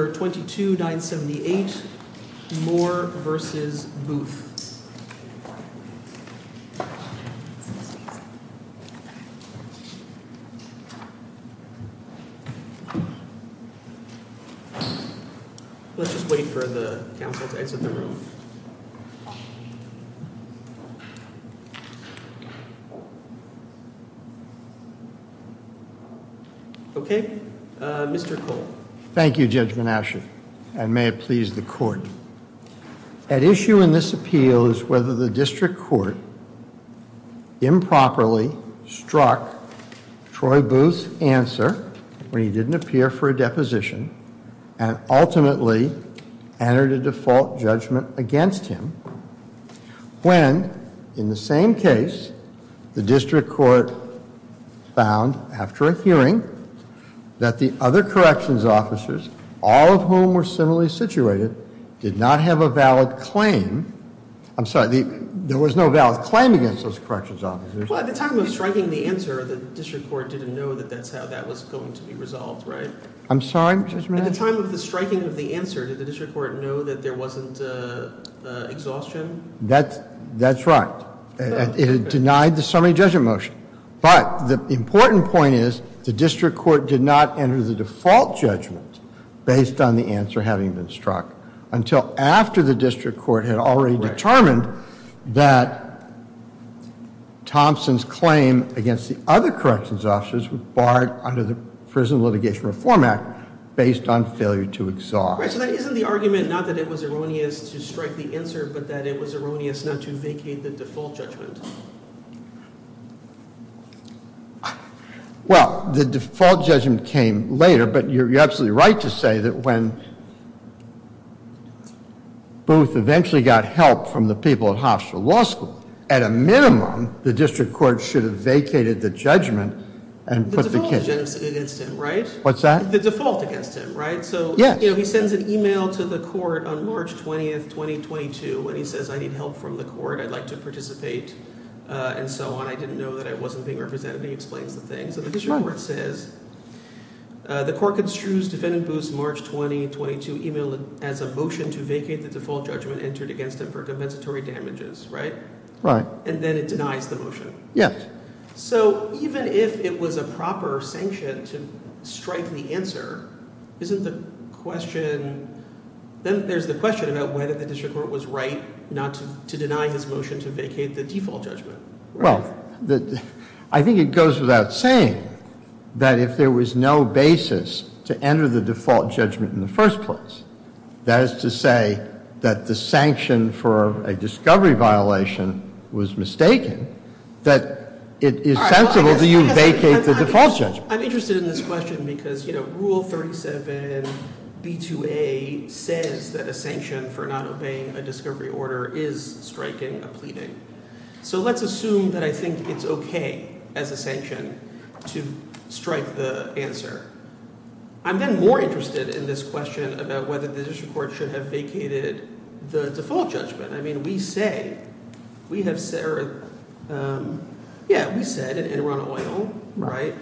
Let's just wait for the council to exit the room. Okay Mr. Cole. Thank you, Judge Menashe, and may it please the court. At issue in this appeal is whether the district court improperly struck Troy Booth's answer when he didn't appear for a deposition and ultimately entered a default judgment against him when, in the same case, the district court found after a hearing that the other corrections officers, all of whom were similarly situated, did not have a valid claim. I'm sorry, there was no valid claim against those corrections officers. Well, at the time of striking the answer, the district court didn't know that that's how that was going to be resolved, right? I'm sorry, Judge Menashe? At the time of the striking of the answer, did the district court know that there wasn't exhaustion? That's right. It had denied the summary judgment motion. But the important point is the district court did not enter the default judgment based on the answer having been struck until after the district court had already determined that Thompson's claim against the other corrections officers were barred under the Prison Litigation Reform Act based on failure to exhaust. Right, so that isn't the argument, not that it was erroneous to strike the answer, but that it was erroneous not to vacate the default judgment. Well, the default judgment came later, but you're absolutely right to say that when Booth eventually got help from the people at Hofstra Law School, at a minimum, the district court should have vacated the judgment and put the kids... The default against him, right? What's that? The default against him, right? Yes. He sends an email to the court on March 20th, 2022, and he says, I need help from the court. I'd like to participate, and so on. I didn't know that I wasn't being represented. He explains the thing. So the district court says, the court construes defendant Booth's March 20, 2022 email as a motion to vacate the default judgment entered against him for compensatory damages, right? Right. And then it denies the motion. Yes. Okay. So even if it was a proper sanction to strike the answer, isn't the question... Then there's the question about whether the district court was right not to deny his motion to vacate the default judgment. Well, I think it goes without saying that if there was no basis to enter the default judgment in the first place, that is to say that the sanction for a discovery violation was mistaken, that it is sensible to use vacate the default judgment. I'm interested in this question because Rule 37, B2A says that a sanction for not obeying a discovery order is striking a pleading. So let's assume that I think it's okay as a sanction to strike the answer. I'm then more interested in this question about whether the district court should have vacated the default judgment. I mean, we say, we have said, yeah, we said and we're on oil, right?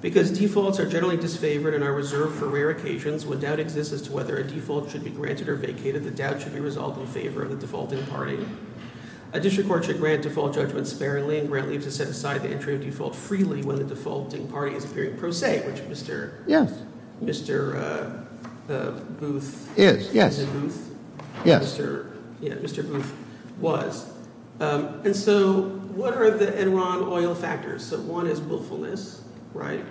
Because defaults are generally disfavored and are reserved for rare occasions when doubt exists as to whether a default should be granted or vacated, the doubt should be resolved in favor of the defaulting party. A district court should grant default judgment sparingly and grant leave to set aside the entry of default freely when the defaulting party is appearing pro se, which Mr. Booth was. And so what are the Enron oil factors? So one is willfulness, right?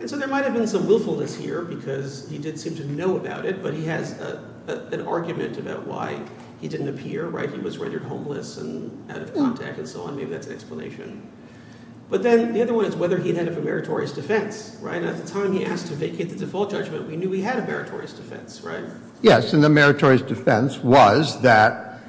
And so there might have been some willfulness here because he did seem to know about it, but he has an argument about why he didn't appear, right? He was rendered homeless and out of contact and so on. Maybe that's an explanation. But then the other one is whether he had had a meritorious defense, right? At the time he asked to vacate the default judgment, we knew he had a meritorious defense, right? Yes. And the meritorious defense was that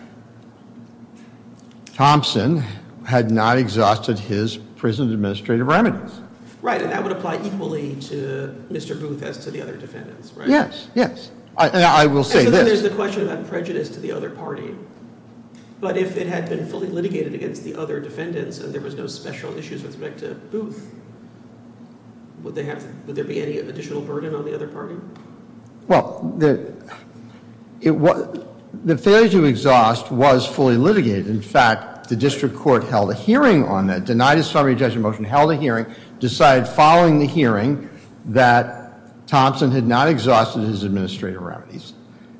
Thompson had not exhausted his prison administrative remedies. Right. And that would apply equally to Mr. Booth as to the other defendants, right? Yes. Yes. And I will say this. And so then there's the question about prejudice to the other party. But if it had been fully litigated against the other defendants and there was no special issues with respect to Booth, would there be any additional burden on the other party? Well, the failure to exhaust was fully litigated. In fact, the district court held a hearing on that, denied a summary judgment motion, held a hearing, decided following the hearing that Thompson had not exhausted his administrative remedies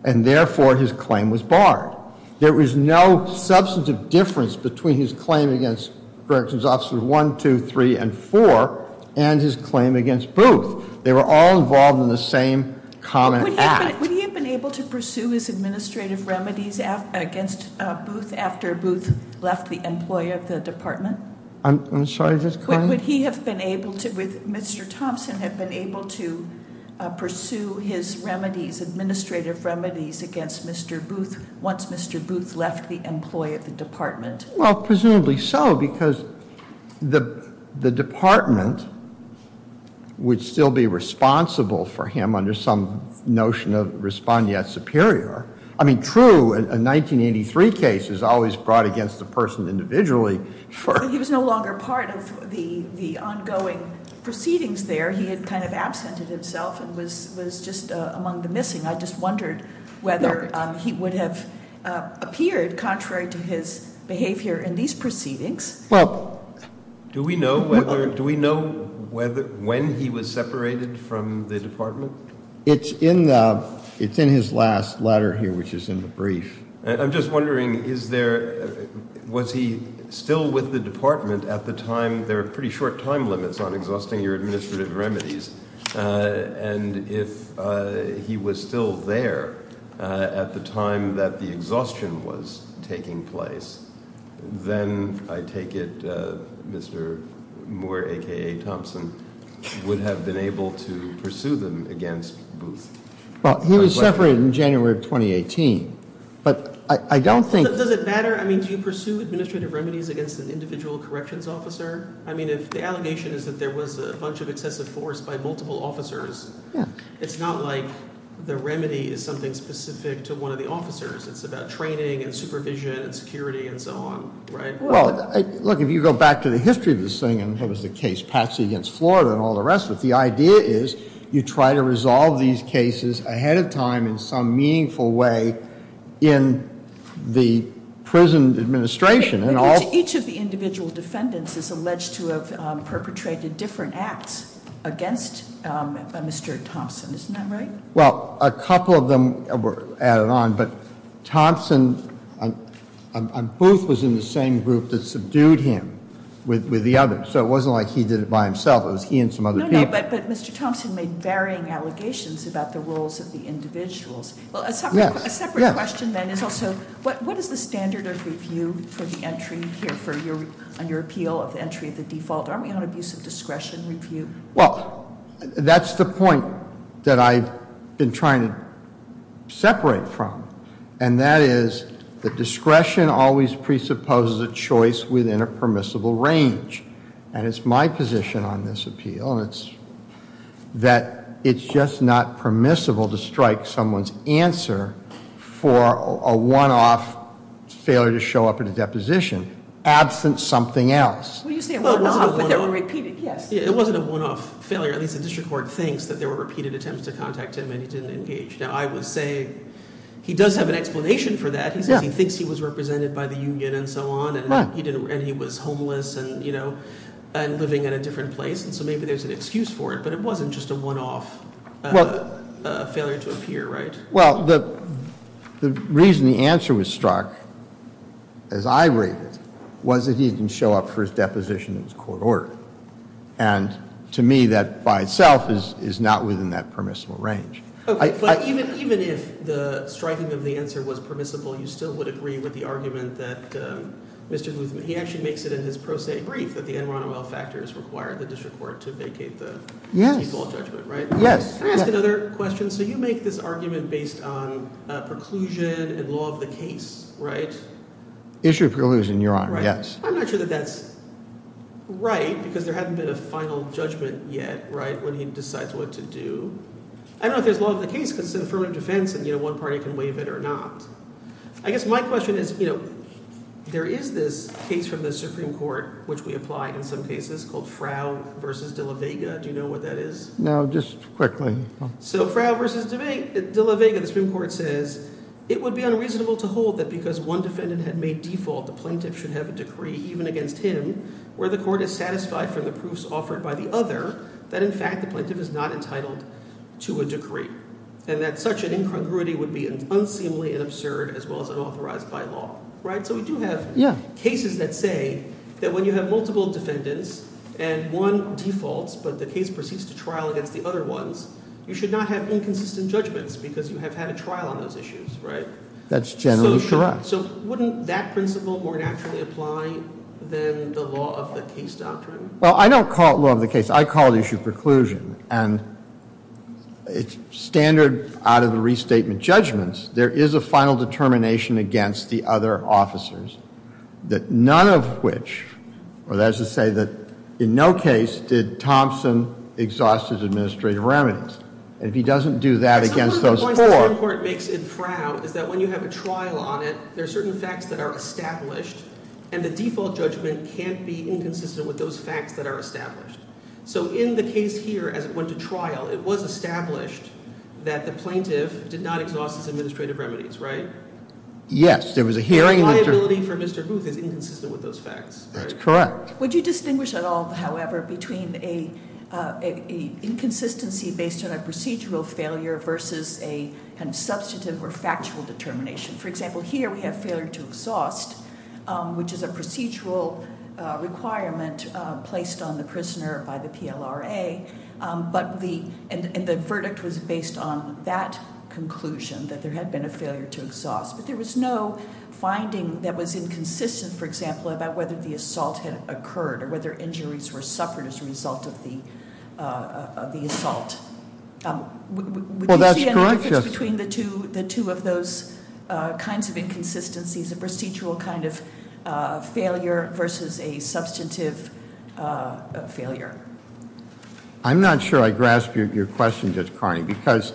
and therefore his claim was barred. There was no substantive difference between his claim against Corrections Officers 1, 2, 3, and 4 and his claim against Booth. They were all involved in the same common act. Would he have been able to pursue his administrative remedies against Booth after Booth left the employee of the department? I'm sorry, just go ahead. Would he have been able to, would Mr. Thompson have been able to pursue his remedies, administrative remedies against Mr. Booth once Mr. Booth left the employee of the department? Well, presumably so because the department would still be responsible for him under some notion of respondeat superior. I mean, true, a 1983 case is always brought against the person individually for- He was no longer part of the ongoing proceedings there. He had kind of absented himself and was just among the missing. And I just wondered whether he would have appeared contrary to his behavior in these proceedings. Well, do we know whether, do we know when he was separated from the department? It's in his last letter here, which is in the brief. I'm just wondering, was he still with the department at the time? There are pretty short time limits on exhausting your administrative remedies. And if he was still there at the time that the exhaustion was taking place, then I take it Mr. Moore, aka Thompson, would have been able to pursue them against Booth. Well, he was separated in January of 2018, but I don't think- Does it matter? I mean, do you pursue administrative remedies against an individual corrections officer? I mean, if the allegation is that there was a bunch of excessive force by multiple officers, it's not like the remedy is something specific to one of the officers. It's about training and supervision and security and so on, right? Well, look, if you go back to the history of this thing, and that was the case Patsy against Florida and all the rest of it. The idea is you try to resolve these cases ahead of time in some meaningful way in the prison administration. Each of the individual defendants is alleged to have perpetrated different acts against Mr. Thompson. Isn't that right? Well, a couple of them were added on, but Thompson and Booth was in the same group that subdued him with the others. So it wasn't like he did it by himself, it was he and some other people. No, no, but Mr. Thompson made varying allegations about the roles of the individuals. Well, a separate question then is also, what is the standard of review for the entry here for your appeal of the entry of the default? Aren't we on abuse of discretion review? Well, that's the point that I've been trying to separate from. And that is, the discretion always presupposes a choice within a permissible range. And it's my position on this appeal, and it's that it's just not permissible to strike someone's answer for a one-off failure to show up in a deposition absent something else. Well, you say a one-off, but there were repeated, yes. Yeah, it wasn't a one-off failure. At least the district court thinks that there were repeated attempts to contact him and he didn't engage. Now, I would say he does have an explanation for that. He says he thinks he was represented by the union and so on, and he was homeless, and living in a different place. And so maybe there's an excuse for it, but it wasn't just a one-off. A failure to appear, right? Well, the reason the answer was struck, as I read it, was that he didn't show up for his deposition in his court order. And to me, that by itself is not within that permissible range. Okay, but even if the striking of the answer was permissible, you still would agree with the argument that Mr. Ron Owell factors required the district court to vacate the default judgment, right? Yes. Can I ask another question? So you make this argument based on preclusion and law of the case, right? Issue of preclusion, Your Honor, yes. I'm not sure that that's right, because there hasn't been a final judgment yet, right, when he decides what to do. I don't know if there's law of the case, because it's an affirmative defense, and one party can waive it or not. I guess my question is, there is this case from the Supreme Court, which we apply in some cases, called Frow v. De La Vega, do you know what that is? No, just quickly. So Frow v. De La Vega, the Supreme Court says, it would be unreasonable to hold that because one defendant had made default, the plaintiff should have a decree even against him, where the court is satisfied from the proofs offered by the other, that in fact the plaintiff is not entitled to a decree. And that such an incongruity would be unseemly and absurd as well as unauthorized by law, right? So we do have cases that say that when you have multiple defendants and one defaults but the case proceeds to trial against the other ones, you should not have inconsistent judgments because you have had a trial on those issues, right? That's generally correct. So wouldn't that principle more naturally apply than the law of the case doctrine? Well, I don't call it law of the case. I call it issue preclusion. And it's standard out of the restatement judgments. There is a final determination against the other officers that none of which, or that is to say that in no case did Thompson exhaust his administrative remedies. And if he doesn't do that against those four- Some of the points the Supreme Court makes in Frow is that when you have a trial on it, there are certain facts that are established. And the default judgment can't be inconsistent with those facts that are established. So in the case here, as it went to trial, it was established that the plaintiff did not exhaust his administrative remedies, right? Yes, there was a hearing- The liability for Mr. Booth is inconsistent with those facts, right? That's correct. Would you distinguish at all, however, between a inconsistency based on a procedural failure versus a kind of substantive or factual determination? For example, here we have failure to exhaust, which is a procedural requirement placed on the prisoner by the PLRA. But the, and the verdict was based on that conclusion, that there had been a failure to exhaust. But there was no finding that was inconsistent, for example, about whether the assault had occurred, or whether injuries were suffered as a result of the assault. Would you see any difference between the two of those? Kinds of inconsistencies, a procedural kind of failure versus a substantive failure. I'm not sure I grasp your question, Judge Carney, because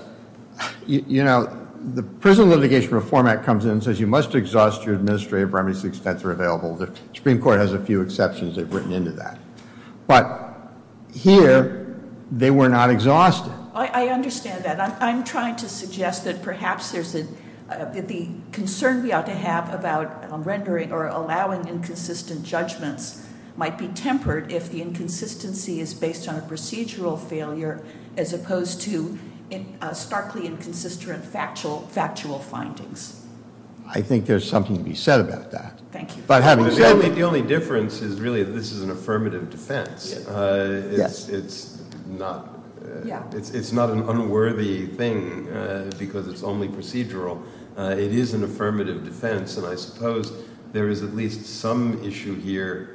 the Prison Litigation Reform Act comes in and says you must exhaust your administrative remedies to the extent they're available. The Supreme Court has a few exceptions they've written into that. But here, they were not exhausted. I understand that. I'm trying to suggest that perhaps there's a, that the concern we ought to have about rendering or allowing inconsistent judgments might be tempered if the inconsistency is based on a procedural failure as opposed to starkly inconsistent factual findings. I think there's something to be said about that. Thank you. The only difference is really this is an affirmative defense. It's not an unworthy thing because it's only procedural. It is an affirmative defense, and I suppose there is at least some issue here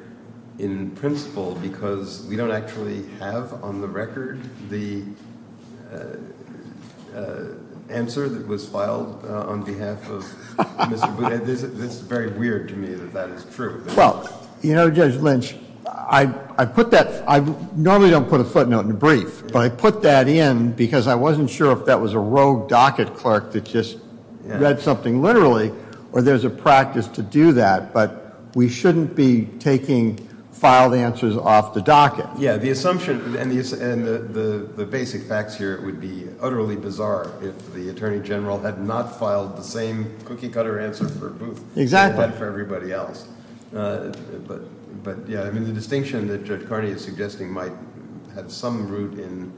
in principle because we don't actually have on the record the answer that was filed on behalf of Mr. Boone. It's very weird to me that that is true. Well, you know, Judge Lynch, I put that, I normally don't put a footnote in a brief, but I put that in because I wasn't sure if that was a rogue docket clerk that just read something literally, or there's a practice to do that, but we shouldn't be taking filed answers off the docket. Yeah, the assumption, and the basic facts here would be utterly bizarre if the Attorney General had not filed the same cookie cutter answer for Booth. Exactly. But for everybody else, but yeah, I mean the distinction that Judge Carney is suggesting might have some root in,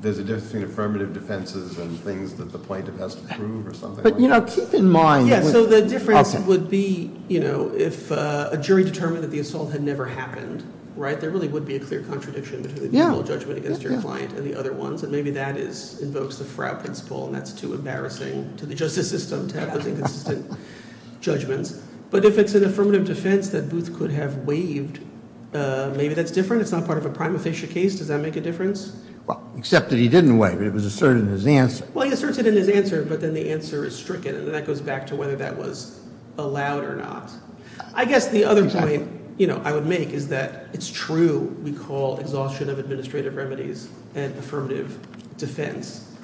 there's a difference between affirmative defenses and things that the plaintiff has to prove or something like that. But you know, keep in mind- Yeah, so the difference would be, you know, if a jury determined that the assault had never happened, right? There really would be a clear contradiction between the legal judgment against your client and the other ones. So maybe that invokes the frow principle, and that's too embarrassing to the justice system to have those inconsistent judgments. But if it's an affirmative defense that Booth could have waived, maybe that's different, it's not part of a prime official case, does that make a difference? Well, except that he didn't waive it, it was asserted in his answer. Well, he asserts it in his answer, but then the answer is stricken, and that goes back to whether that was allowed or not. I guess the other point, you know, I would make is that it's true we call exhaustion of administrative remedies an affirmative defense.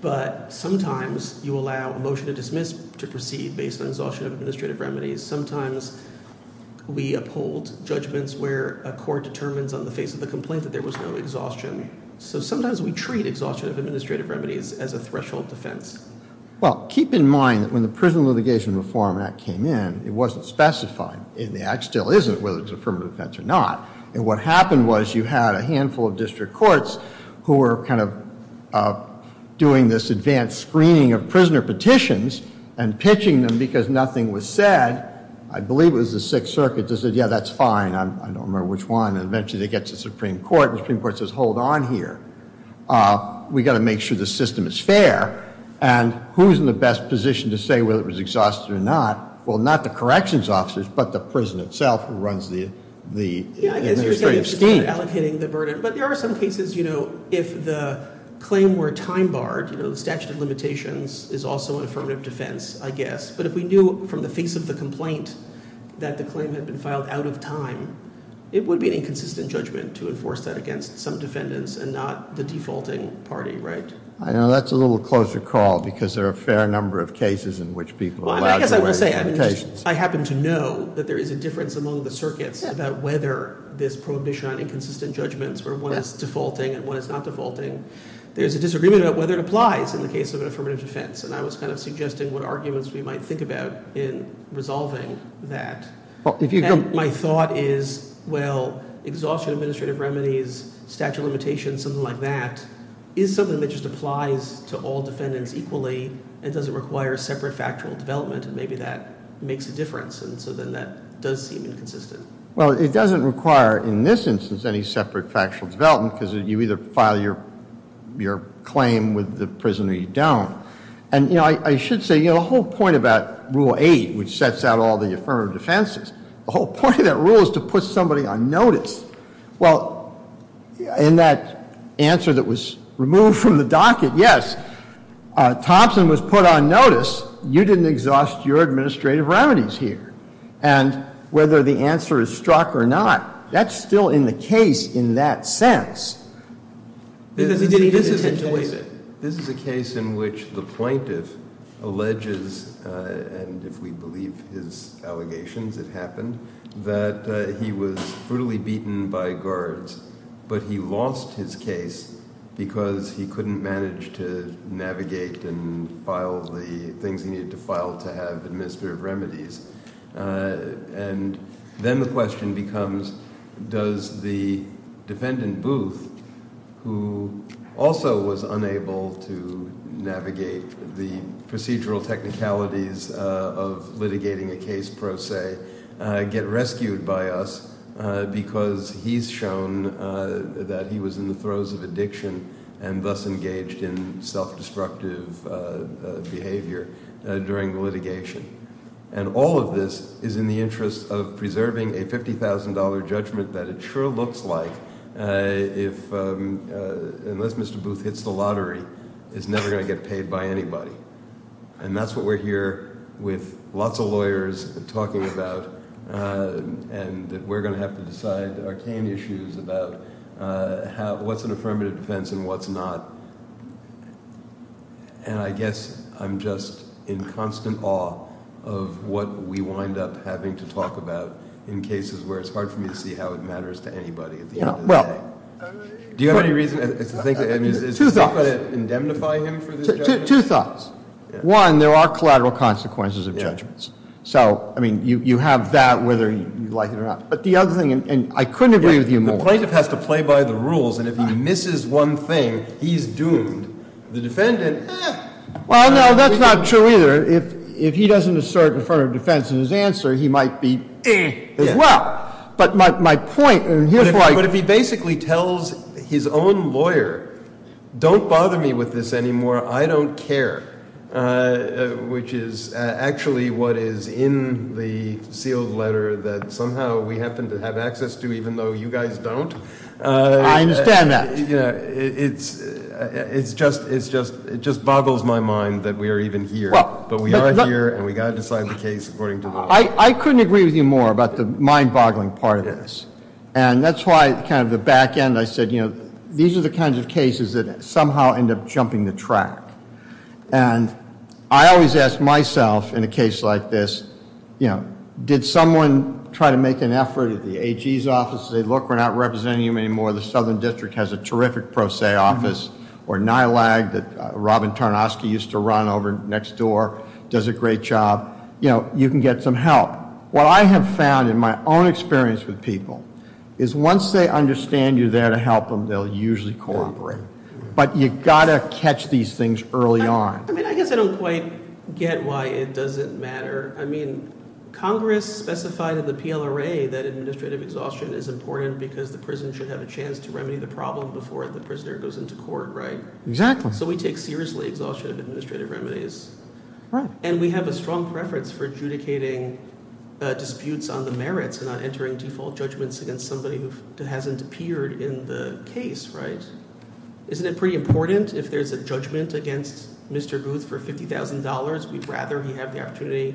But sometimes you allow a motion to dismiss to proceed based on exhaustion of administrative remedies. Sometimes we uphold judgments where a court determines on the face of the complaint that there was no exhaustion. So sometimes we treat exhaustion of administrative remedies as a threshold defense. Well, keep in mind that when the Prison Litigation Reform Act came in, it wasn't specified, and the act still isn't, whether it's an affirmative defense or not. And what happened was you had a handful of district courts who were kind of doing this advanced screening of prisoner petitions. And pitching them because nothing was said, I believe it was the Sixth Circuit, just said, yeah, that's fine, I don't remember which one. And eventually they get to the Supreme Court, and the Supreme Court says, hold on here, we got to make sure the system is fair. And who's in the best position to say whether it was exhausted or not? Well, not the corrections officers, but the prison itself who runs the administrative scheme. Yeah, I guess you're saying it's just about allocating the burden. But there are some cases, you know, if the claim were time barred, you know, the statute of limitations is also an affirmative defense, I guess. But if we knew from the face of the complaint that the claim had been filed out of time, it would be an inconsistent judgment to enforce that against some defendants and not the defaulting party, right? I know that's a little closer call, because there are a fair number of cases in which people are allowed to- Well, I guess I will say, I happen to know that there is a difference among the circuits about whether this prohibition on inconsistent judgments, where one is defaulting and one is not defaulting, there's a disagreement about whether it applies in the case of an affirmative defense. And I was kind of suggesting what arguments we might think about in resolving that. And my thought is, well, exhaustion of administrative remedies, statute of limitations, something like that, is something that just applies to all defendants equally and doesn't require a separate factual development, and maybe that makes a difference, and so then that does seem inconsistent. Well, it doesn't require, in this instance, any separate factual development because you either file your claim with the prison or you don't. And I should say, the whole point about Rule 8, which sets out all the affirmative defenses, the whole point of that rule is to put somebody on notice. Well, in that answer that was removed from the docket, yes. Thompson was put on notice. You didn't exhaust your administrative remedies here. And whether the answer is struck or not, that's still in the case in that sense. Because he didn't intentionally- This is a case in which the plaintiff alleges, and if we believe his allegations, it happened, that he was brutally beaten by guards. But he lost his case because he couldn't manage to navigate and file the things he needed to file to have administrative remedies. And then the question becomes, does the defendant Booth, who also was unable to navigate the procedural technicalities of litigating a case pro se, get rescued by us? Because he's shown that he was in the throes of addiction and thus engaged in self-destructive behavior during the litigation. And all of this is in the interest of preserving a $50,000 judgment that it sure looks like. Unless Mr. Booth hits the lottery, it's never going to get paid by anybody. And that's what we're here with lots of lawyers talking about. And that we're going to have to decide arcane issues about what's an affirmative defense and what's not. And I guess I'm just in constant awe of what we wind up having to talk about in cases where it's hard for me to see how it matters to anybody at the end of the day. Do you have any reason to think that, I mean, is this going to indemnify him for the judgment? Two thoughts. One, there are collateral consequences of judgments. So, I mean, you have that whether you like it or not. But the other thing, and I couldn't agree with you more. The plaintiff has to play by the rules, and if he misses one thing, he's doomed. The defendant, eh. Well, no, that's not true either. If he doesn't assert affirmative defense in his answer, he might be, eh, as well. But my point, and here's why- But if he basically tells his own lawyer, don't bother me with this anymore, I don't care. Which is actually what is in the sealed letter that somehow we happen to have access to, even though you guys don't. I understand that. It just boggles my mind that we are even here. But we are here, and we've got to decide the case according to the law. I couldn't agree with you more about the mind-boggling part of this. And that's why, kind of the back end, I said, these are the kinds of cases that somehow end up jumping the track. And I always ask myself, in a case like this, did someone try to make an effort at the AG's office, say, look, we're not representing you anymore, the southern district has a terrific pro se office. Or NILAG, that Robin Tarnoski used to run over next door, does a great job. You can get some help. What I have found in my own experience with people, is once they understand you're there to help them, they'll usually cooperate. But you gotta catch these things early on. I mean, I guess I don't quite get why it doesn't matter. I mean, Congress specified in the PLRA that administrative exhaustion is important, because the prison should have a chance to remedy the problem before the prisoner goes into court, right? Exactly. So we take seriously exhaustion of administrative remedies. Right. And we have a strong preference for adjudicating disputes on the merits, and not entering default judgments against somebody who hasn't appeared in the case, right? Isn't it pretty important if there's a judgment against Mr. Booth for $50,000, we'd rather he have the opportunity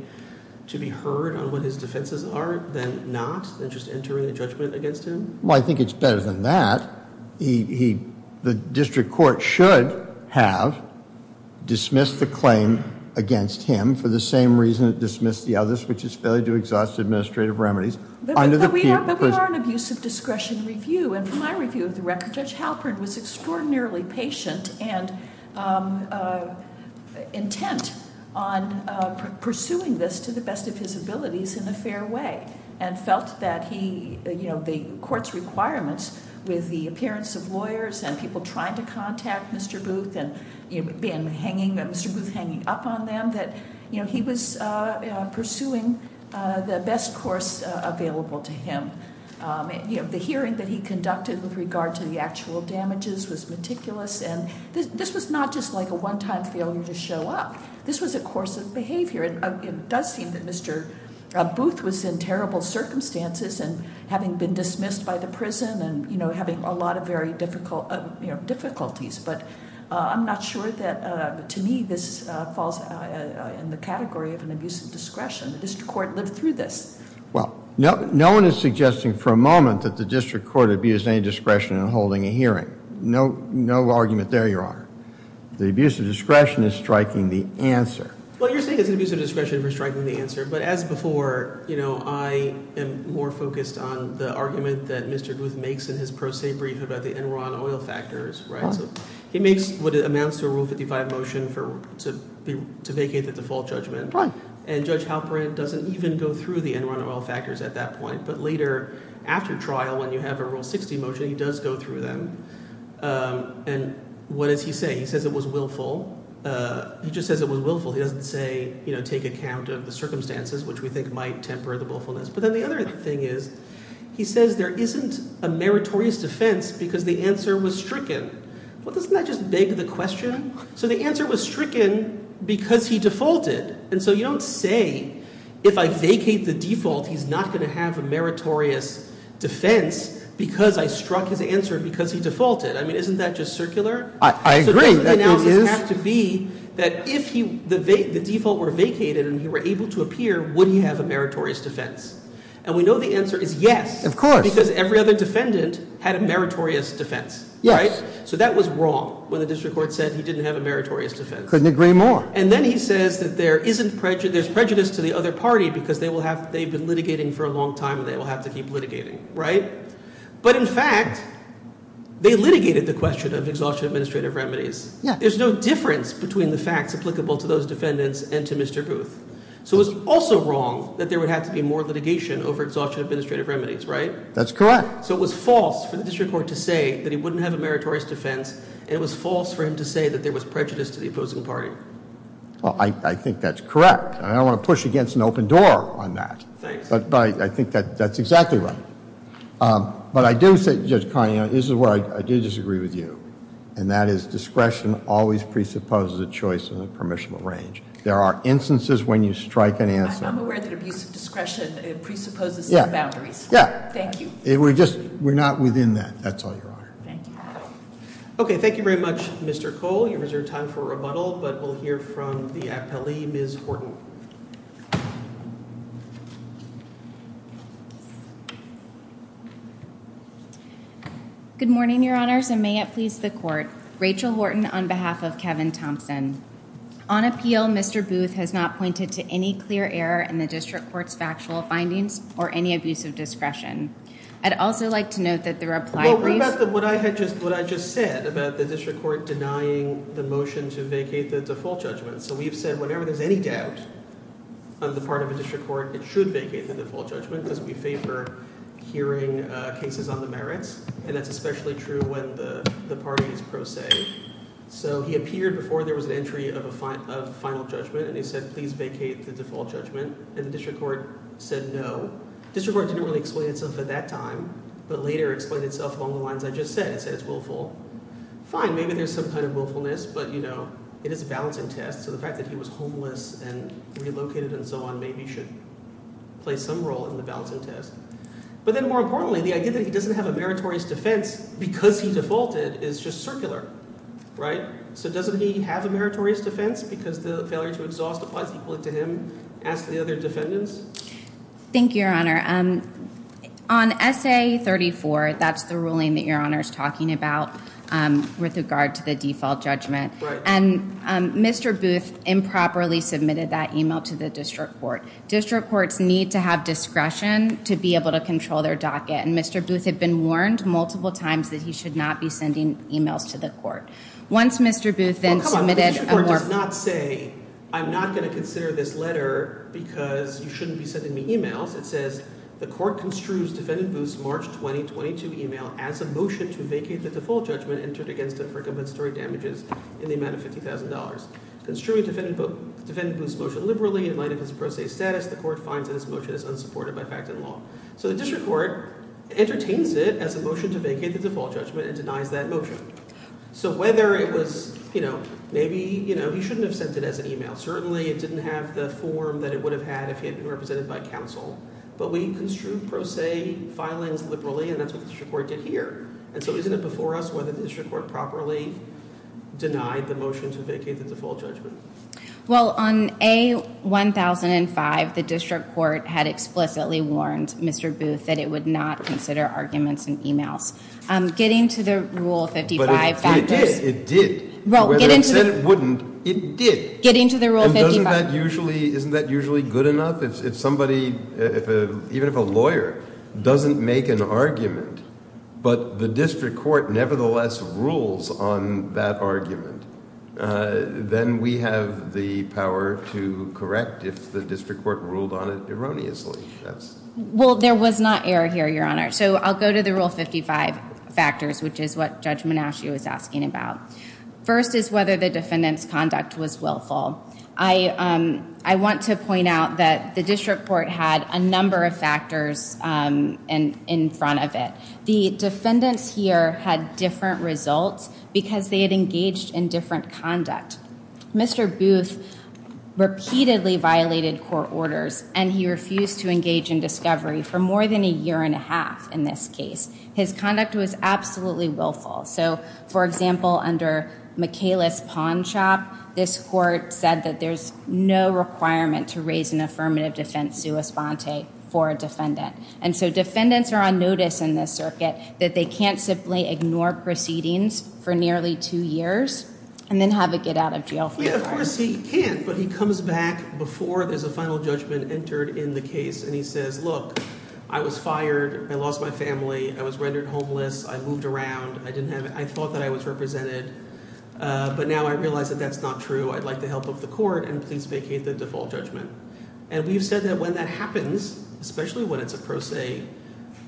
to be heard on what his defenses are, than not, than just entering a judgment against him? Well, I think it's better than that. The district court should have dismissed the claim against him for the same reason it dismissed the others, which is failure to exhaust administrative remedies under the- But we are an abusive discretion review. And from my review of the record, Judge Halpern was extraordinarily patient and intent on pursuing this to the best of his abilities in a fair way. And felt that he, the court's requirements with the appearance of lawyers and people trying to contact Mr. Booth and Mr. Booth hanging up on them, that he was pursuing the best course available to him. The hearing that he conducted with regard to the actual damages was meticulous. And this was not just like a one time failure to show up. This was a course of behavior. It does seem that Mr. Booth was in terrible circumstances and having been dismissed by the prison and having a lot of very difficult difficulties. But I'm not sure that, to me, this falls in the category of an abusive discretion. The district court lived through this. Well, no one is suggesting for a moment that the district court abused any discretion in holding a hearing. No argument there, Your Honor. The abuse of discretion is striking the answer. Well, you're saying it's an abuse of discretion for striking the answer. But as before, I am more focused on the argument that Mr. Booth makes in his pro se brief about the Enron oil factors, right? So he makes what amounts to a Rule 55 motion to vacate the default judgment. Right. And Judge Halpern doesn't even go through the Enron oil factors at that point. But later, after trial, when you have a Rule 60 motion, he does go through them. And what does he say? He says it was willful. He just says it was willful. He doesn't say, take account of the circumstances, which we think might temper the willfulness. But then the other thing is, he says there isn't a meritorious defense because the answer was stricken. Well, doesn't that just beg the question? So the answer was stricken because he defaulted. And so you don't say, if I vacate the default, he's not going to have a meritorious defense because I struck his answer because he defaulted. I mean, isn't that just circular? I agree. That is. It doesn't have to be that if the default were vacated and he were able to appear, would he have a meritorious defense? And we know the answer is yes. Of course. Because every other defendant had a meritorious defense. Yes. So that was wrong when the district court said he didn't have a meritorious defense. Couldn't agree more. And then he says that there's prejudice to the other party because they've been litigating for a long time and they will have to keep litigating, right? But in fact, they litigated the question of exhaustion of administrative remedies. Yeah. There's no difference between the facts applicable to those defendants and to Mr. Booth. So it's also wrong that there would have to be more litigation over exhaustion of administrative remedies, right? That's correct. So it was false for the district court to say that he wouldn't have a meritorious defense. It was false for him to say that there was prejudice to the opposing party. Well, I think that's correct. I don't want to push against an open door on that. Thanks. But I think that that's exactly right. But I do say, Judge Carney, this is where I do disagree with you. And that is discretion always presupposes a choice in a permissible range. There are instances when you strike an answer. I'm aware that abuse of discretion presupposes some boundaries. Yeah. Yeah. Thank you. We're just, we're not within that. That's all, Your Honor. Thank you. Okay. Thank you very much, Mr. Cole. You have reserved time for rebuttal. But we'll hear from the appellee, Ms. Horton. Good morning, Your Honors, and may it please the court. Rachel Horton on behalf of Kevin Thompson. On appeal, Mr. Booth has not pointed to any clear error in the district court's factual findings or any abuse of discretion. I'd also like to note that the reply brief- The district court denying the motion to vacate the default judgment. So we've said whenever there's any doubt on the part of a district court, it should vacate the default judgment. Because we favor hearing cases on the merits. And that's especially true when the party is pro se. So he appeared before there was an entry of a final judgment. And he said, please vacate the default judgment. And the district court said no. District court didn't really explain itself at that time. But later explained itself along the lines I just said. I said it's willful. Fine, maybe there's some kind of willfulness. But, you know, it is a balancing test. So the fact that he was homeless and relocated and so on maybe should play some role in the balancing test. But then more importantly, the idea that he doesn't have a meritorious defense because he defaulted is just circular, right? So doesn't he have a meritorious defense because the failure to exhaust applies equally to him? Ask the other defendants. Thank you, Your Honor. On SA 34, that's the ruling that Your Honor is talking about with regard to the default judgment. And Mr. Booth improperly submitted that email to the district court. District courts need to have discretion to be able to control their docket. And Mr. Booth had been warned multiple times that he should not be sending emails to the court. Once Mr. Booth then submitted a more- The court construes defendant Booth's March 2022 email as a motion to vacate the default judgment entered against him for compensatory damages in the amount of $50,000. Construing defendant Booth's motion liberally in light of his pro se status, the court finds that his motion is unsupported by fact and law. So the district court entertains it as a motion to vacate the default judgment and denies that motion. So whether it was, you know, maybe, you know, he shouldn't have sent it as an email. Certainly it didn't have the form that it would have had if he had been represented by counsel. But we construed pro se filings liberally, and that's what the district court did here. And so isn't it before us whether the district court properly denied the motion to vacate the default judgment? Well, on A1005, the district court had explicitly warned Mr. Booth that it would not consider arguments in emails. Getting to the Rule 55 factors- But it did. It did. Well, getting to the- Whether it said it wouldn't, it did. Getting to the Rule 55- Doesn't that usually, isn't that usually good enough? If somebody, even if a lawyer, doesn't make an argument, but the district court nevertheless rules on that argument, then we have the power to correct if the district court ruled on it erroneously. Well, there was not error here, Your Honor. So I'll go to the Rule 55 factors, which is what Judge Menascio is asking about. First is whether the defendant's conduct was willful. I want to point out that the district court had a number of factors in front of it. The defendants here had different results because they had engaged in different conduct. Mr. Booth repeatedly violated court orders and he refused to engage in discovery for more than a year and a half in this case. His conduct was absolutely willful. So, for example, under Michaelis-Pawnshop, this court said that there's no requirement to raise an affirmative defense sua sponte for a defendant. And so defendants are on notice in this circuit that they can't simply ignore proceedings for nearly two years and then have it get out of jail for a year. Yeah, of course he can't, but he comes back before there's a final judgment entered in the case and he says, look, I was fired, I lost my family, I was rendered homeless, I moved around, I thought that I was represented. But now I realize that that's not true. I'd like the help of the court and please vacate the default judgment. And we've said that when that happens, especially when it's a pro se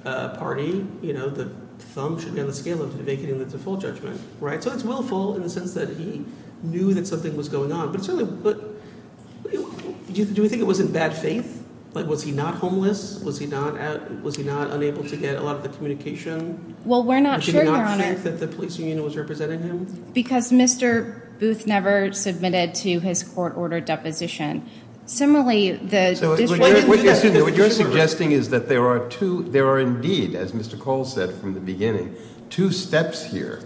party, the thumb should be on the scale of vacating the default judgment, right? So it's willful in the sense that he knew that something was going on. But do we think it was in bad faith? Like, was he not homeless? Was he not unable to get a lot of the communication? Well, we're not sure, Your Honor. That the police union was representing him? Because Mr. Booth never submitted to his court order deposition. Similarly, the- So what you're suggesting is that there are indeed, as Mr. Cole said from the beginning, two steps here.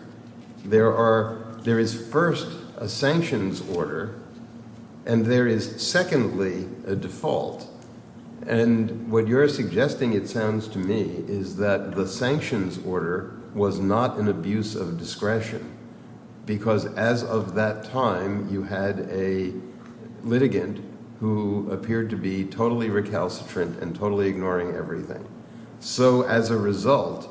There is first a sanctions order, and there is secondly a default. And what you're suggesting it sounds to me is that the sanctions order was not an abuse of discretion. Because as of that time, you had a litigant who appeared to be totally recalcitrant and totally ignoring everything. So as a result,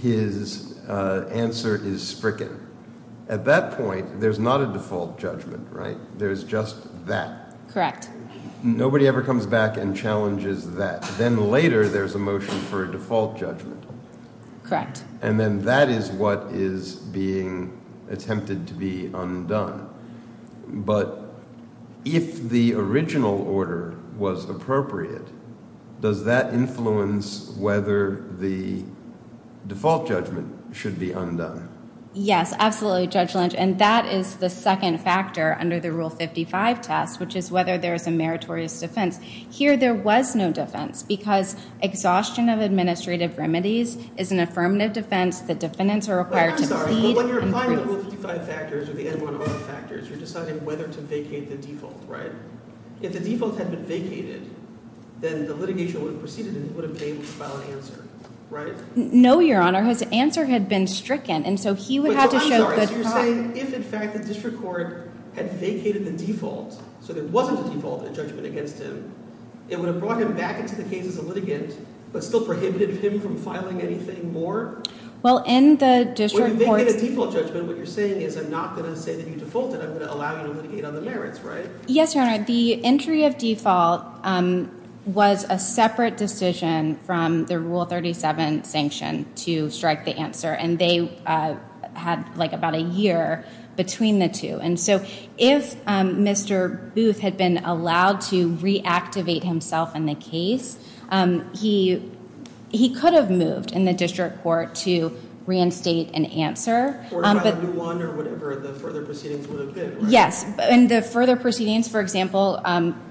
his answer is spricken. At that point, there's not a default judgment, right? There's just that. Correct. Nobody ever comes back and challenges that. Then later, there's a motion for a default judgment. Correct. And then that is what is being attempted to be undone. But if the original order was appropriate, does that influence whether the default judgment should be undone? Yes, absolutely, Judge Lynch. And that is the second factor under the Rule 55 test, which is whether there is a meritorious defense. Here, there was no defense, because exhaustion of administrative remedies is an affirmative defense. The defendants are required to plead and plead. I'm sorry, but when you're applying the Rule 55 factors or the N1R factors, you're deciding whether to vacate the default, right? If the default had been vacated, then the litigation would have proceeded and he would have been able to file an answer, right? No, Your Honor. His answer had been stricken. And so he would have to show good cause. But I'm sorry, so you're saying if, in fact, the district court had vacated the default so there wasn't a default in the judgment against him, it would have brought him back into the case as a litigant, but still prohibited him from filing anything more? Well, in the district court's- When you vacate a default judgment, what you're saying is I'm not going to say that you defaulted. I'm going to allow you to litigate on the merits, right? Yes, Your Honor. The entry of default was a separate decision from the Rule 37 sanction to strike the answer. And they had about a year between the two. And so if Mr. Booth had been allowed to reactivate himself in the case, he could have moved in the district court to reinstate an answer. Or file a new one or whatever the further proceedings would have been, right? Yes. And the further proceedings, for example,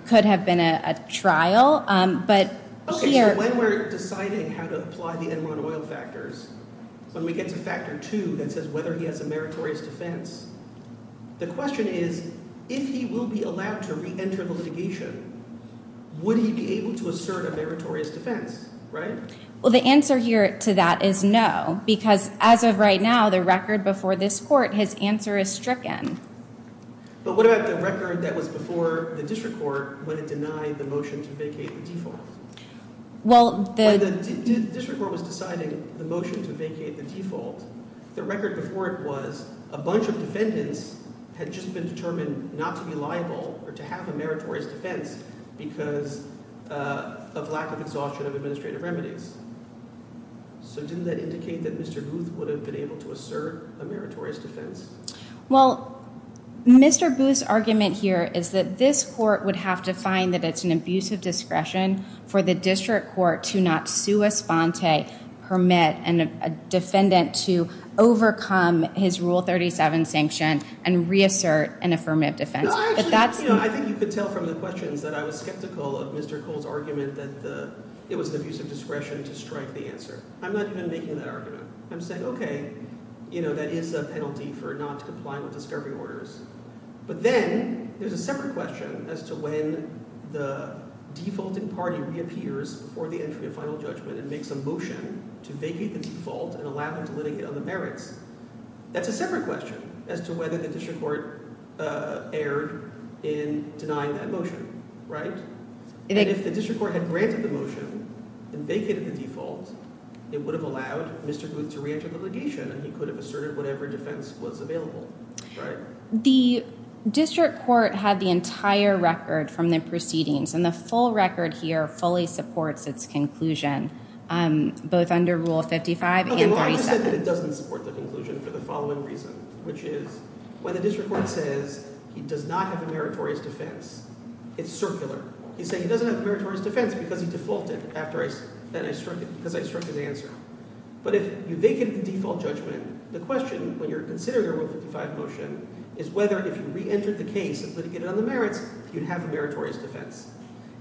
could have been a trial. But here- Okay, so when we're deciding how to apply the Enron oil factors, when we get to factor two that says whether he has a meritorious defense, the question is, if he will be allowed to re-enter the litigation, would he be able to assert a meritorious defense, right? Well, the answer here to that is no. Because as of right now, the record before this court, his answer is stricken. But what about the record that was before the district court when it denied the motion to vacate the default? Well, the- When the district court was deciding the motion to vacate the default, the record before it was, a bunch of defendants had just been determined not to be liable or to have a meritorious defense because of lack of exhaustion of administrative remedies. So didn't that indicate that Mr. Booth would have been able to assert a meritorious defense? Well, Mr. Booth's argument here is that this court would have to find that it's an abuse of discretion for the district court to not sue a sponte permit and a defendant to overcome his Rule 37 sanction and reassert an affirmative defense. But that's- No, actually, I think you could tell from the questions that I was skeptical of Mr. Cole's argument that it was an abuse of discretion to strike the answer. I'm not even making that argument. I'm saying, okay, that is a penalty for not complying with discovery orders. But then, there's a separate question as to when the defaulting party reappears before the entry of final judgment and makes a motion to vacate the default and allow them to litigate on the merits. That's a separate question as to whether the district court erred in denying that motion. Right? And if the district court had granted the motion and vacated the default, it would have allowed Mr. Booth to re-enter the litigation and he could have asserted whatever defense was available, right? The district court had the entire record from the proceedings and the full record here fully supports its conclusion, both under Rule 55 and 37. Okay, well, I just said that it doesn't support the conclusion for the following reason, which is when the district court says he does not have a meritorious defense, it's circular. He's saying he doesn't have a meritorious defense because he defaulted after I, then I struck it, because I struck his answer. But if you vacate the default judgment, the question when you're considering a Rule 55 motion is whether if you re-entered the case and litigated on the merits, you'd have a meritorious defense.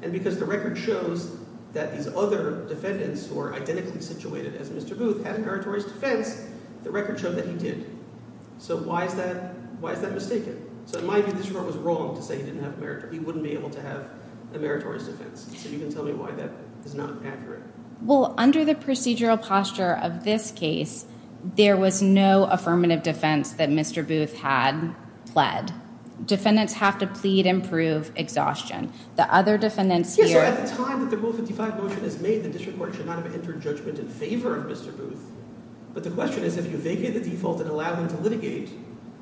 And because the record shows that these other defendants who are identically situated as Mr. Booth had a meritorious defense, the record showed that he did. So why is that, why is that mistaken? So it might be the district court was wrong to say he didn't have a meritorious, he wouldn't be able to have a meritorious defense. So you can tell me why that is not accurate. Well, under the procedural posture of this case, there was no affirmative defense that Mr. Booth had pled. Defendants have to plead and prove exhaustion. The other defendants here- Yeah, so at the time that the Rule 55 motion is made, the district court should not have entered judgment in favor of Mr. Booth. But the question is, if you vacate the default and allow him to litigate,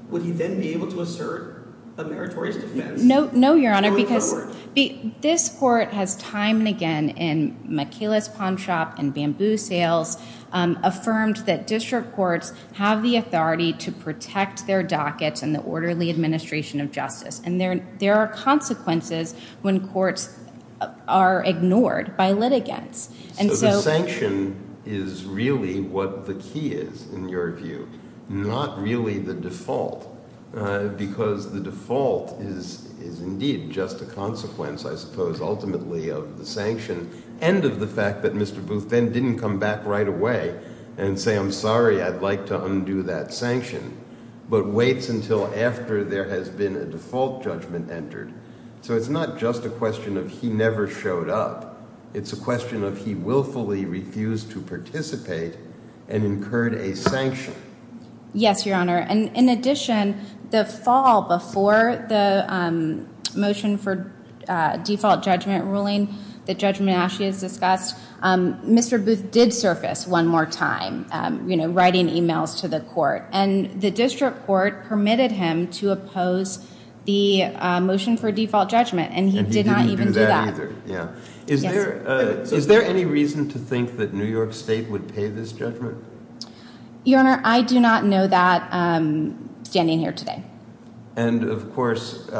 would he then be able to assert a meritorious defense going forward? No, Your Honor, because this court has time and again, in McKayla's Pawn Shop and Bamboo Sales, affirmed that district courts have the authority to protect their dockets and the orderly administration of justice. And there are consequences when courts are ignored by litigants. So the sanction is really what the key is, in your view, not really the default. Because the default is indeed just a consequence, I suppose, ultimately of the sanction and of the fact that Mr. Booth then didn't come back right away and say, I'm sorry, I'd like to undo that sanction. But waits until after there has been a default judgment entered. So it's not just a question of he never showed up. It's a question of he willfully refused to participate and incurred a sanction. Yes, Your Honor. And in addition, the fall before the motion for default judgment ruling, the judgment actually is discussed, Mr. Booth did surface one more time, you know, writing emails to the court. And the district court permitted him to oppose the motion for default judgment. And he did not even do that. Yeah. Is there any reason to think that New York State would pay this judgment? Your Honor, I do not know that standing here today. And of course,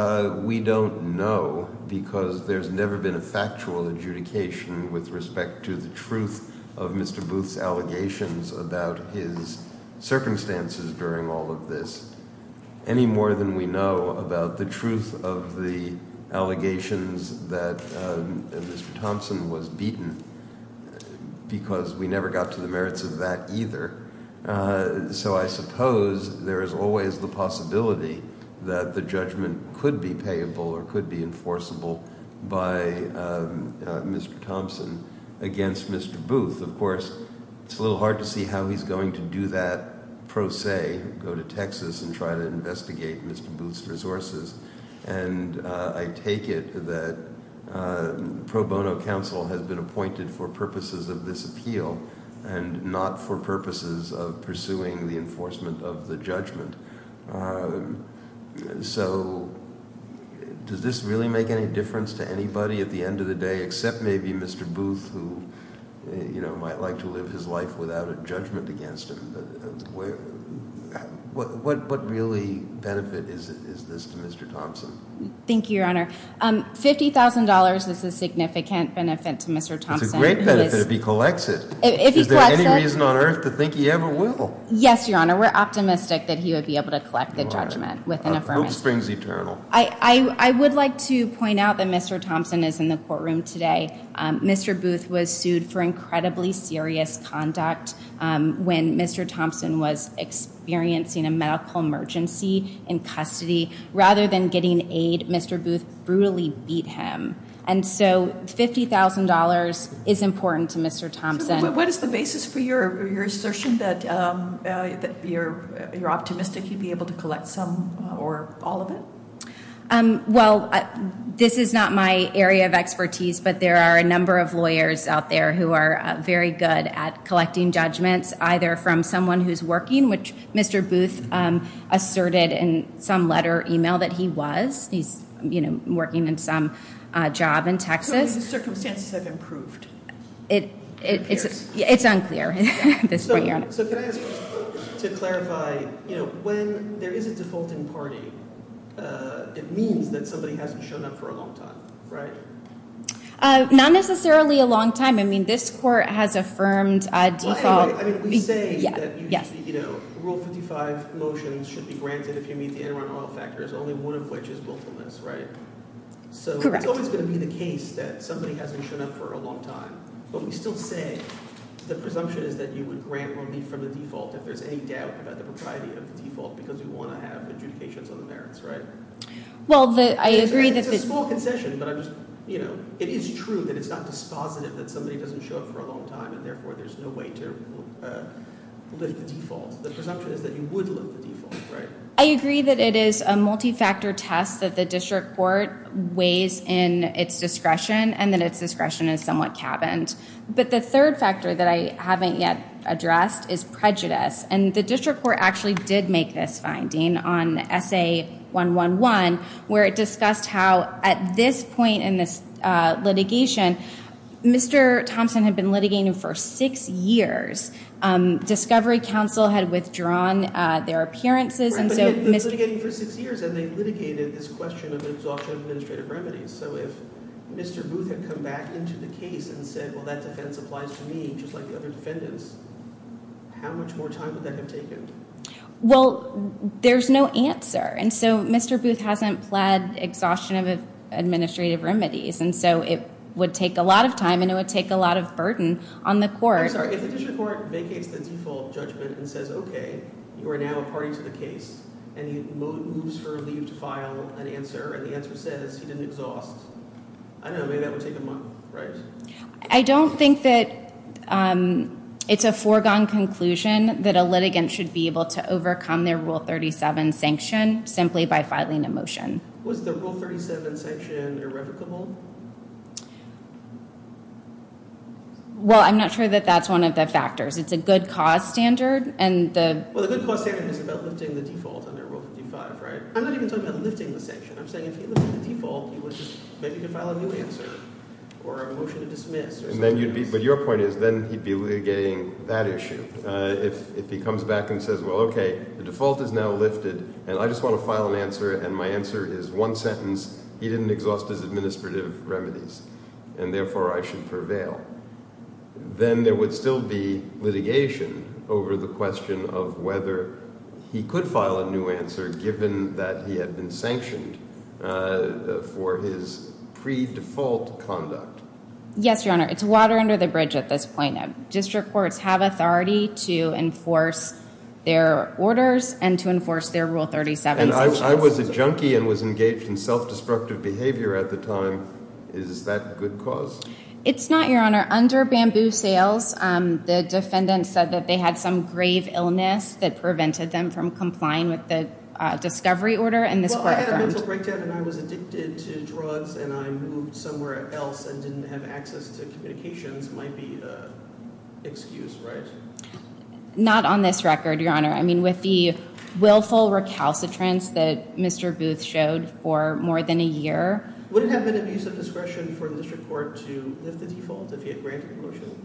we don't know because there's never been a factual adjudication with respect to the truth of Mr. Booth's allegations about his circumstances during all of this. Any more than we know about the truth of the allegations that Mr. Thompson was beaten because we never got to the merits of that either. So I suppose there is always the possibility that the judgment could be payable or could be enforceable by Mr. Thompson against Mr. Booth. Of course, it's a little hard to see how he's going to do that pro se, go to Texas and try to investigate Mr. Booth's resources. And I take it that pro bono counsel has been appointed for purposes of this appeal and not for purposes of pursuing the enforcement of the judgment. So does this really make any difference to anybody at the end of the day except maybe Mr. Booth who, you know, might like to live his life without a judgment against him? But what really benefit is this to Mr. Thompson? Thank you, Your Honor. $50,000 is a significant benefit to Mr. Thompson. It's a great benefit if he collects it. If he collects it. Is there any reason on earth to think he ever will? Yes, Your Honor. We're optimistic that he would be able to collect it. He would be able to collect the judgment with an affirmation. Hope springs eternal. I would like to point out that Mr. Thompson is in the courtroom today. Mr. Booth was sued for incredibly serious conduct when Mr. Thompson was experiencing a medical emergency in custody. Rather than getting aid, Mr. Booth brutally beat him. And so $50,000 is important to Mr. Thompson. What is the basis for your assertion that you're optimistic he'd be able to collect some or all of it? Well, this is not my area of expertise, but there are a number of lawyers out there who are very good at collecting judgments, either from someone who's working, which Mr. Booth asserted in some letter or email that he was. He's, you know, working in some job in Texas. So the circumstances have improved? It's unclear at this point, Your Honor. So can I ask to clarify, you know, when there is a defaulting party, it means that somebody hasn't shown up for a long time, right? Not necessarily a long time. I mean, this court has affirmed a default. I mean, we say that, you know, Rule 55 motions should be granted if you meet the interim oil factors, only one of which is willfulness, right? So it's always going to be the case that somebody hasn't shown up for a long time. But we still say the presumption is that you would grant only from the default if there's any doubt about the propriety of the default, because we want to have adjudications on the merits, right? Well, I agree that... It's a small concession, but I'm just, you know, it is true that it's not dispositive that somebody doesn't show up for a long time and therefore there's no way to lift the default. The presumption is that you would lift the default, right? I agree that it is a multi-factor test that the district court weighs in its discretion and that its discretion is somewhat cabined. But the third factor that I haven't yet addressed is prejudice. And the district court actually did make this finding on SA111, where it discussed how at this point in this litigation, Mr. Thompson had been litigating for six years. Discovery Counsel had withdrawn their appearances and so... But he had been litigating for six years and they litigated this question of the absorption of administrative remedies. So if Mr. Booth had come back into the case and said, well, that defense applies to me just like the other defendants, how much more time would that have taken? Well, there's no answer. And so Mr. Booth hasn't pled exhaustion of administrative remedies. And so it would take a lot of time and it would take a lot of burden on the court. I'm sorry, if the district court vacates the default judgment and says, okay, you are now a party to the case and he moves for leave to file an answer and the answer says he didn't exhaust, I don't know, maybe that would take a month, right? I don't think that it's a foregone conclusion that a litigant should be able to overcome their Rule 37 sanction simply by filing a motion. Was the Rule 37 sanction irrevocable? Well, I'm not sure that that's one of the factors. It's a good cause standard and the... Well, the good cause standard is about lifting the default under Rule 55, right? I'm not even talking about lifting the sanction. I'm saying if he lifted the default, he would just... Maybe he could file a new answer or a motion to dismiss. And then you'd be... But your point is then he'd be litigating that issue. If he comes back and says, well, okay, the default is now lifted and I just want to file an answer and my answer is one sentence, he didn't exhaust his administrative remedies and therefore I should prevail, then there would still be litigation over the question of whether he could file a new answer given that he had been sanctioned for his pre-default conduct. Yes, Your Honor. It's water under the bridge at this point. District courts have authority to enforce their orders and to enforce their Rule 37 sanctions. I was a junkie and was engaged in self-destructive behavior at the time. Is that good cause? It's not, Your Honor. Under Bamboo Sales, the defendant said that they had some grave illness that prevented them from complying with the discovery order. Well, I had a mental breakdown and I was addicted to drugs and I moved somewhere else and didn't have access to communications might be an excuse, right? Not on this record, Your Honor. I mean, with the willful recalcitrance that Mr. Booth showed for more than a year... Would it have been an abuse of discretion for the district court to lift the default if he had granted the motion?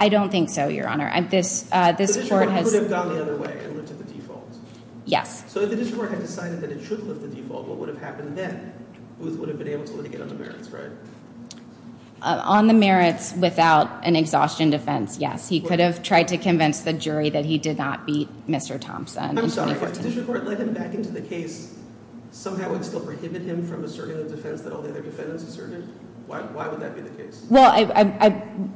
I don't think so, Your Honor. The district court could have gone the other way and lifted the default. Yes. So if the district court had decided that it should lift the default, what would have happened then? Booth would have been able to litigate on the merits, right? On the merits without an exhaustion defense, yes. He could have tried to convince the jury that he did not beat Mr. Thompson. I'm sorry, if the district court let him back into the case, somehow it still prohibited him from asserting the defense that all the other defendants asserted? Why would that be the case? Well,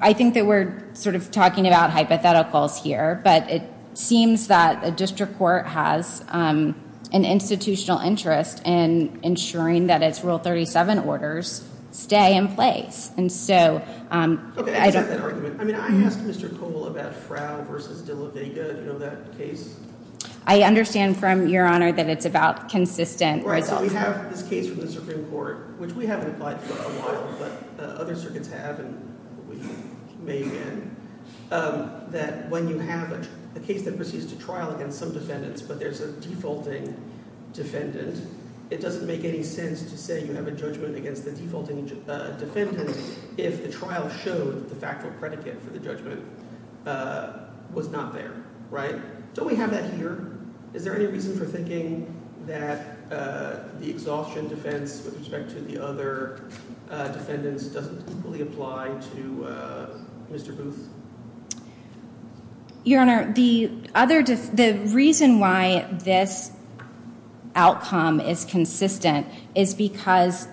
I think that we're sort of talking about hypotheticals here, but it seems that a district court has an institutional interest in ensuring that its Rule 37 orders stay in place. And so... Okay, I get that argument. I mean, I asked Mr. Cole about Frow v. DeLaVega. Do you know that case? I understand from Your Honor that it's about consistent results. We have this case from the Supreme Court, which we haven't applied for a while, but other circuits have and we may again, that when you have a case that proceeds to trial against some defendants, but there's a defaulting defendant, it doesn't make any sense to say you have a judgment against the defaulting defendant if the trial showed the factual predicate for the judgment was not there, right? Don't we have that here? Is there any reason for thinking that the exhaustion defense with respect to the other defendants doesn't equally apply to Mr. Booth? Your Honor, the reason why this outcome is consistent is because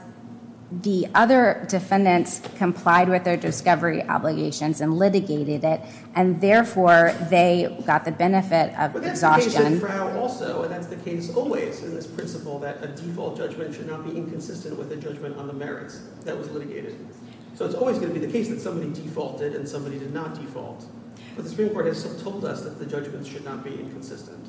the other defendants complied with their discovery obligations and litigated it, and therefore, they got the benefit of exhaustion. But that's the case with Frow also, and that's the case always in this principle that a default judgment should not be inconsistent with a judgment on the merits that was litigated. So it's always going to be the case that somebody defaulted and somebody did not default. But the Supreme Court has told us that the judgments should not be inconsistent.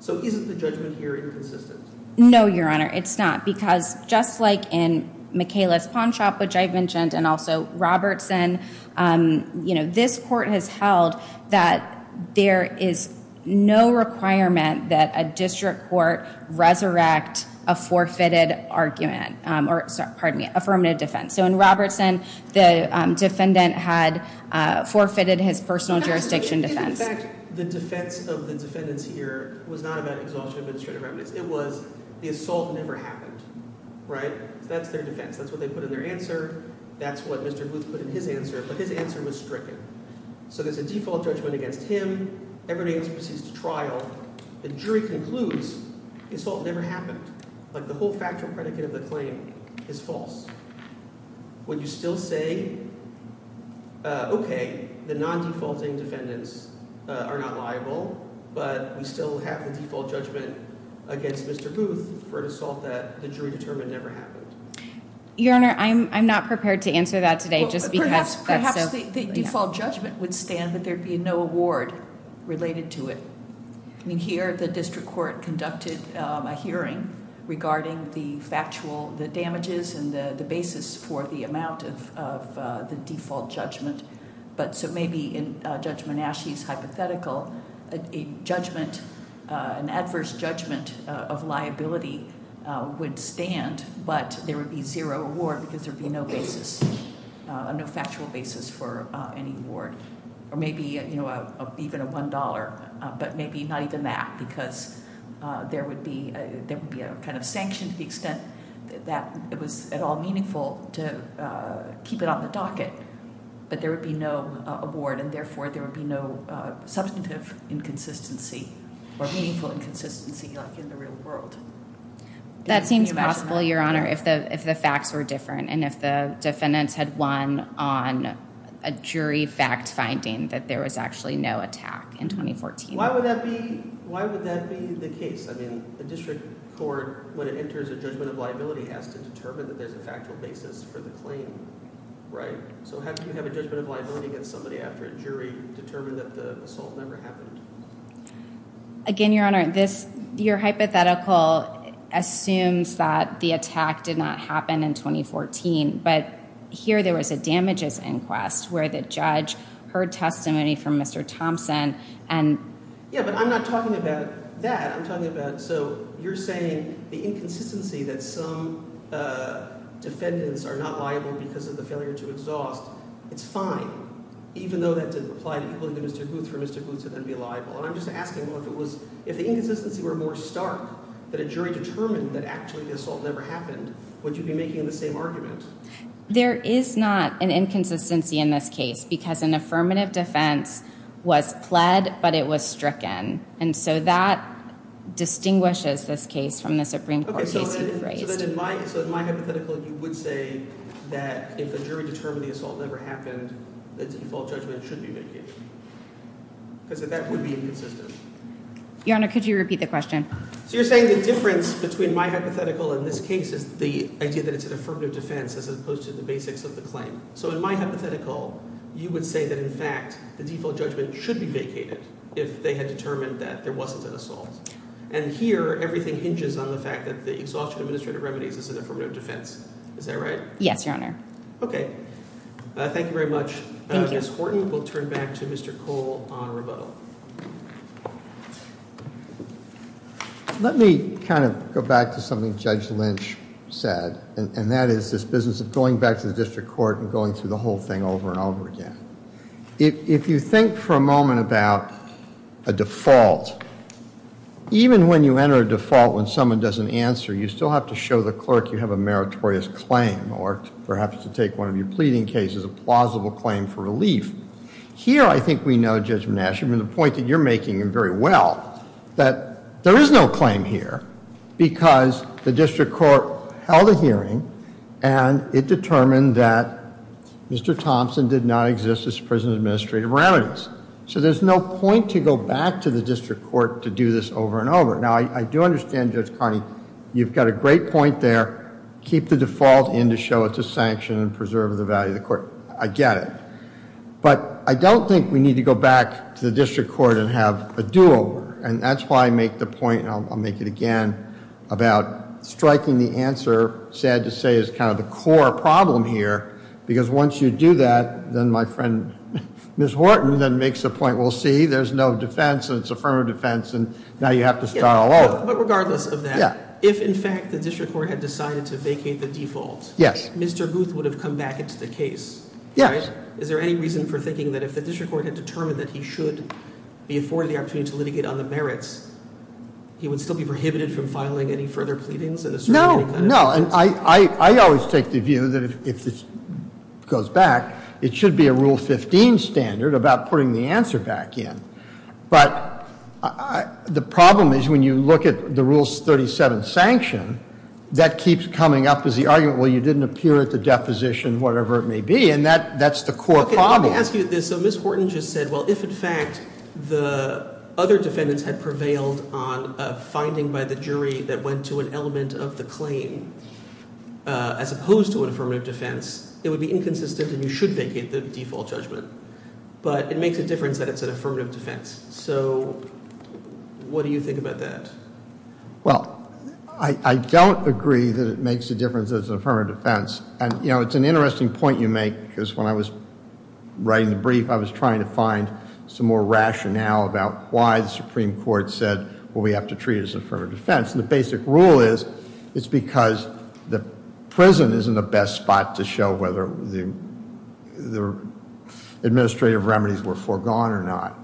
So isn't the judgment here inconsistent? No, Your Honor, it's not. Because just like in Michaela's pawn shop, which I've mentioned, and also Robertson, this court has held that there is no requirement that a district court resurrect a forfeited argument, or pardon me, affirmative defense. So in Robertson, the defendant had forfeited his personal jurisdiction defense. In fact, the defense of the defendants here was not about exhaustion of administrative remedies. It was the assault never happened, right? So that's their defense. That's what they put in their answer. That's what Mr. Booth put in his answer. But his answer was stricken. So there's a default judgment against him. Everybody else proceeds to trial. The jury concludes the assault never happened. Like the whole factual predicate of the claim is false. Would you still say, okay, the non-defaulting defendants are not liable, but we still have the default judgment against Mr. Booth for an assault that the jury determined never happened? Your Honor, I'm not prepared to answer that today. Just because that's so- Perhaps the default judgment would stand that there'd be no award. Related to it. I mean, here the district court conducted a hearing regarding the factual, the damages and the basis for the amount of the default judgment. But so maybe in Judge Monashie's hypothetical, a judgment, an adverse judgment of liability would stand, but there would be zero award because there'd be no basis, no factual basis for any award. Or maybe even a $1, but maybe not even that, because there would be a kind of sanction to the extent that it was at all meaningful to keep it on the docket. But there would be no award and therefore there would be no substantive inconsistency or meaningful inconsistency like in the real world. That seems possible, Your Honor, if the facts were different and if the defendants had won on a jury fact finding that there was actually no attack in 2014. Why would that be the case? I mean, the district court, when it enters a judgment of liability, has to determine that there's a factual basis for the claim, right? So how do you have a judgment of liability against somebody after a jury determined that the assault never happened? Again, Your Honor, your hypothetical assumes that the attack did not happen in 2014, but here there was a damages inquest where the judge heard testimony from Mr. Thompson and... Yeah, but I'm not talking about that. I'm talking about, so you're saying the inconsistency that some defendants are not liable because of the failure to exhaust, it's fine, even though that didn't apply to people like Mr. Booth, for Mr. Booth to then be liable. And I'm just asking, well, if it was, if the inconsistency were more stark that a jury determined that actually the assault never happened, would you be making the same argument? There is not an inconsistency in this case because an affirmative defense was pled, but it was stricken. And so that distinguishes this case from the Supreme Court case you've raised. So then in my hypothetical, you would say that if the jury determined the assault never happened, the default judgment should be mitigated? Because that would be inconsistent. Your Honor, could you repeat the question? So you're saying the difference between my hypothetical and this case is the idea that it's an affirmative defense as opposed to the basics of the claim. So in my hypothetical, you would say that, in fact, the default judgment should be vacated if they had determined that there wasn't an assault. And here, everything hinges on the fact that the exhaustion of administrative remedies is an affirmative defense. Is that right? Yes, Your Honor. Okay, thank you very much. Ms. Horton, we'll turn back to Mr. Cole on rebuttal. Let me kind of go back to something Judge Lynch said, and that is this business of going back to the district court and going through the whole thing over and over again. If you think for a moment about a default, even when you enter a default when someone doesn't answer, you still have to show the clerk you have a meritorious claim or perhaps to take one of your pleading cases, a plausible claim for relief. Here, I think we know, Judge Mnuchin, from the point that you're making very well, that there is no claim here because the district court held a hearing and it determined that Mr. Thompson did not exist as a prison administrator of remedies. So there's no point to go back to the district court to do this over and over. Now, I do understand, Judge Connie, you've got a great point there, keep the default in to show it's a sanction and preserve the value of the court. I get it. But I don't think we need to go back to the district court and have a do-over and that's why I make the point, I'll make it again, about striking the answer, sad to say, is kind of the core problem here because once you do that, then my friend Ms. Horton then makes a point, we'll see, there's no defense and it's affirmative defense and now you have to start all over. But regardless of that, if in fact the district court had decided to vacate the default, Mr. Guth would have come back into the case, right? Is there any reason for thinking that if the district court had determined that he should be afforded the opportunity to litigate on the merits, he would still be prohibited from filing any further pleadings? No, no. And I always take the view that if this goes back, it should be a Rule 15 standard about putting the answer back in. But the problem is when you look at the Rule 37 sanction, that keeps coming up as the argument, well, you didn't appear at the deposition, whatever it be, and that's the core problem. Okay, let me ask you this. So Ms. Horton just said, well, if in fact the other defendants had prevailed on a finding by the jury that went to an element of the claim as opposed to an affirmative defense, it would be inconsistent and you should vacate the default judgment. But it makes a difference that it's an affirmative defense. So what do you think about that? Well, I don't agree that it makes a difference that it's an affirmative defense. And it's an interesting point you make, because when I was writing the brief, I was trying to find some more rationale about why the Supreme Court said, well, we have to treat it as an affirmative defense. And the basic rule is it's because the prison isn't the best spot to show whether the administrative remedies were foregone or not.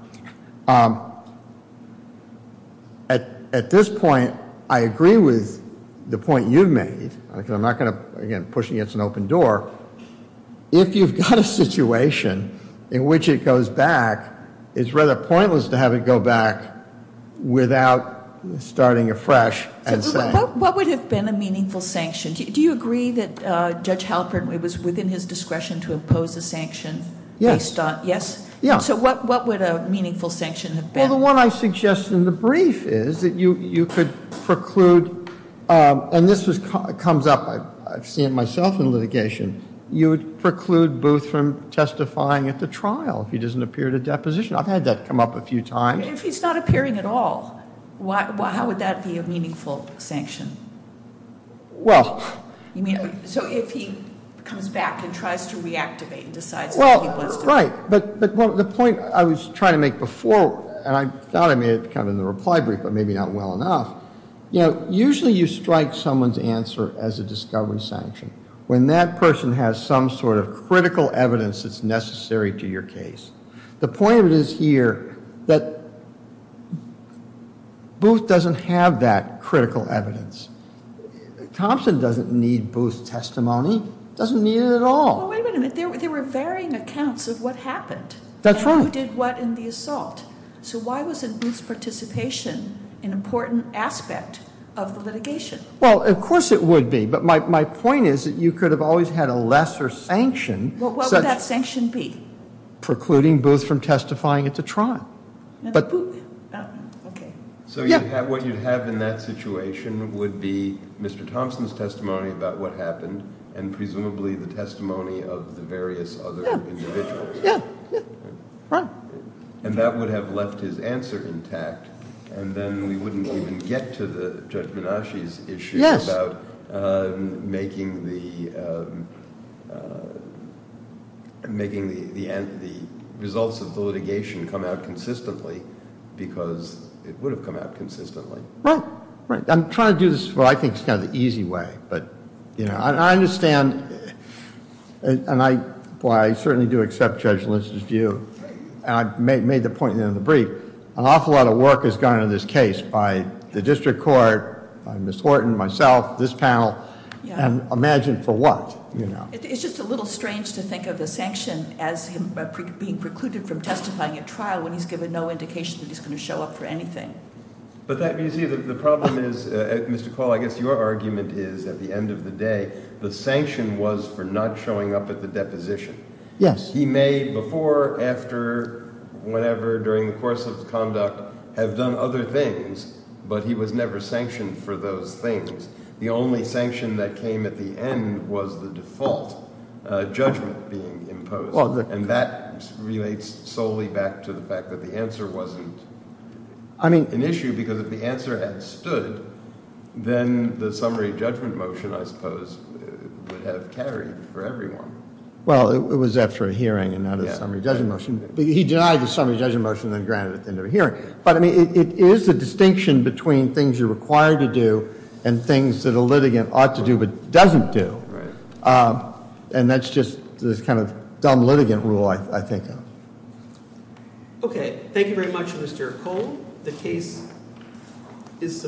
At this point, I agree with the point you've made, because I'm not going to, again, push against an open door. If you've got a situation in which it goes back, it's rather pointless to have it go back without starting afresh and saying- What would have been a meaningful sanction? Do you agree that Judge Halpern, it was within his discretion to impose a sanction based on- Yes. Yes? Yeah. So what would a meaningful sanction have been? Well, the one I suggested in the brief is that you could preclude, and this comes up, I've seen it myself in litigation, you would preclude Booth from testifying at the trial if he doesn't appear at a deposition. I've had that come up a few times. If he's not appearing at all, how would that be a meaningful sanction? Well- So if he comes back and tries to reactivate and decides- Well, right. But the point I was trying to make before, and I thought I made it kind of in the reply brief, but maybe not well enough, you know, usually you strike someone's discovery sanction when that person has some sort of critical evidence that's necessary to your case. The point of it is here that Booth doesn't have that critical evidence. Thompson doesn't need Booth's testimony. Doesn't need it at all. Well, wait a minute. There were varying accounts of what happened. That's right. And who did what in the assault. So why wasn't Booth's participation an important aspect of the litigation? Well, of course it would be. But my point is that you could have always had a lesser sanction. What would that sanction be? Precluding Booth from testifying at the trial. Okay. So what you'd have in that situation would be Mr. Thompson's testimony about what happened and presumably the testimony of the various other individuals. Yeah. Right. And that would have left his answer intact. And then we wouldn't even get to Judge Menasche's issue about making the results of the litigation come out consistently because it would have come out consistently. Right. Right. I'm trying to do this in what I think is kind of the easy way. But, you know, I understand. And I certainly do accept Judge Lins' view. And I made the point at the end of the brief. An awful lot of work has gone into this case by the district court, by Ms. Horton, myself, this panel. And imagine for what, you know. It's just a little strange to think of the sanction as being precluded from testifying at trial when he's given no indication that he's going to show up for anything. But you see, the problem is, Mr. Call, I guess your argument is, at the end of the day, the sanction was for not showing up at the deposition. Yes. He may before, after, whenever, during the course of conduct have done other things, but he was never sanctioned for those things. The only sanction that came at the end was the default judgment being imposed. And that relates solely back to the fact that the answer wasn't an issue because if the answer had stood, then the summary judgment motion, I suppose, would have carried for everyone. Well, it was after a hearing and not a summary judgment motion. He denied the summary judgment motion and then granted it at the end of a hearing. But I mean, it is a distinction between things you're required to do and things that a litigant ought to do but doesn't do. And that's just this kind of dumb litigant rule, I think. Okay. Thank you very much, Mr. Cole. The case is submitted.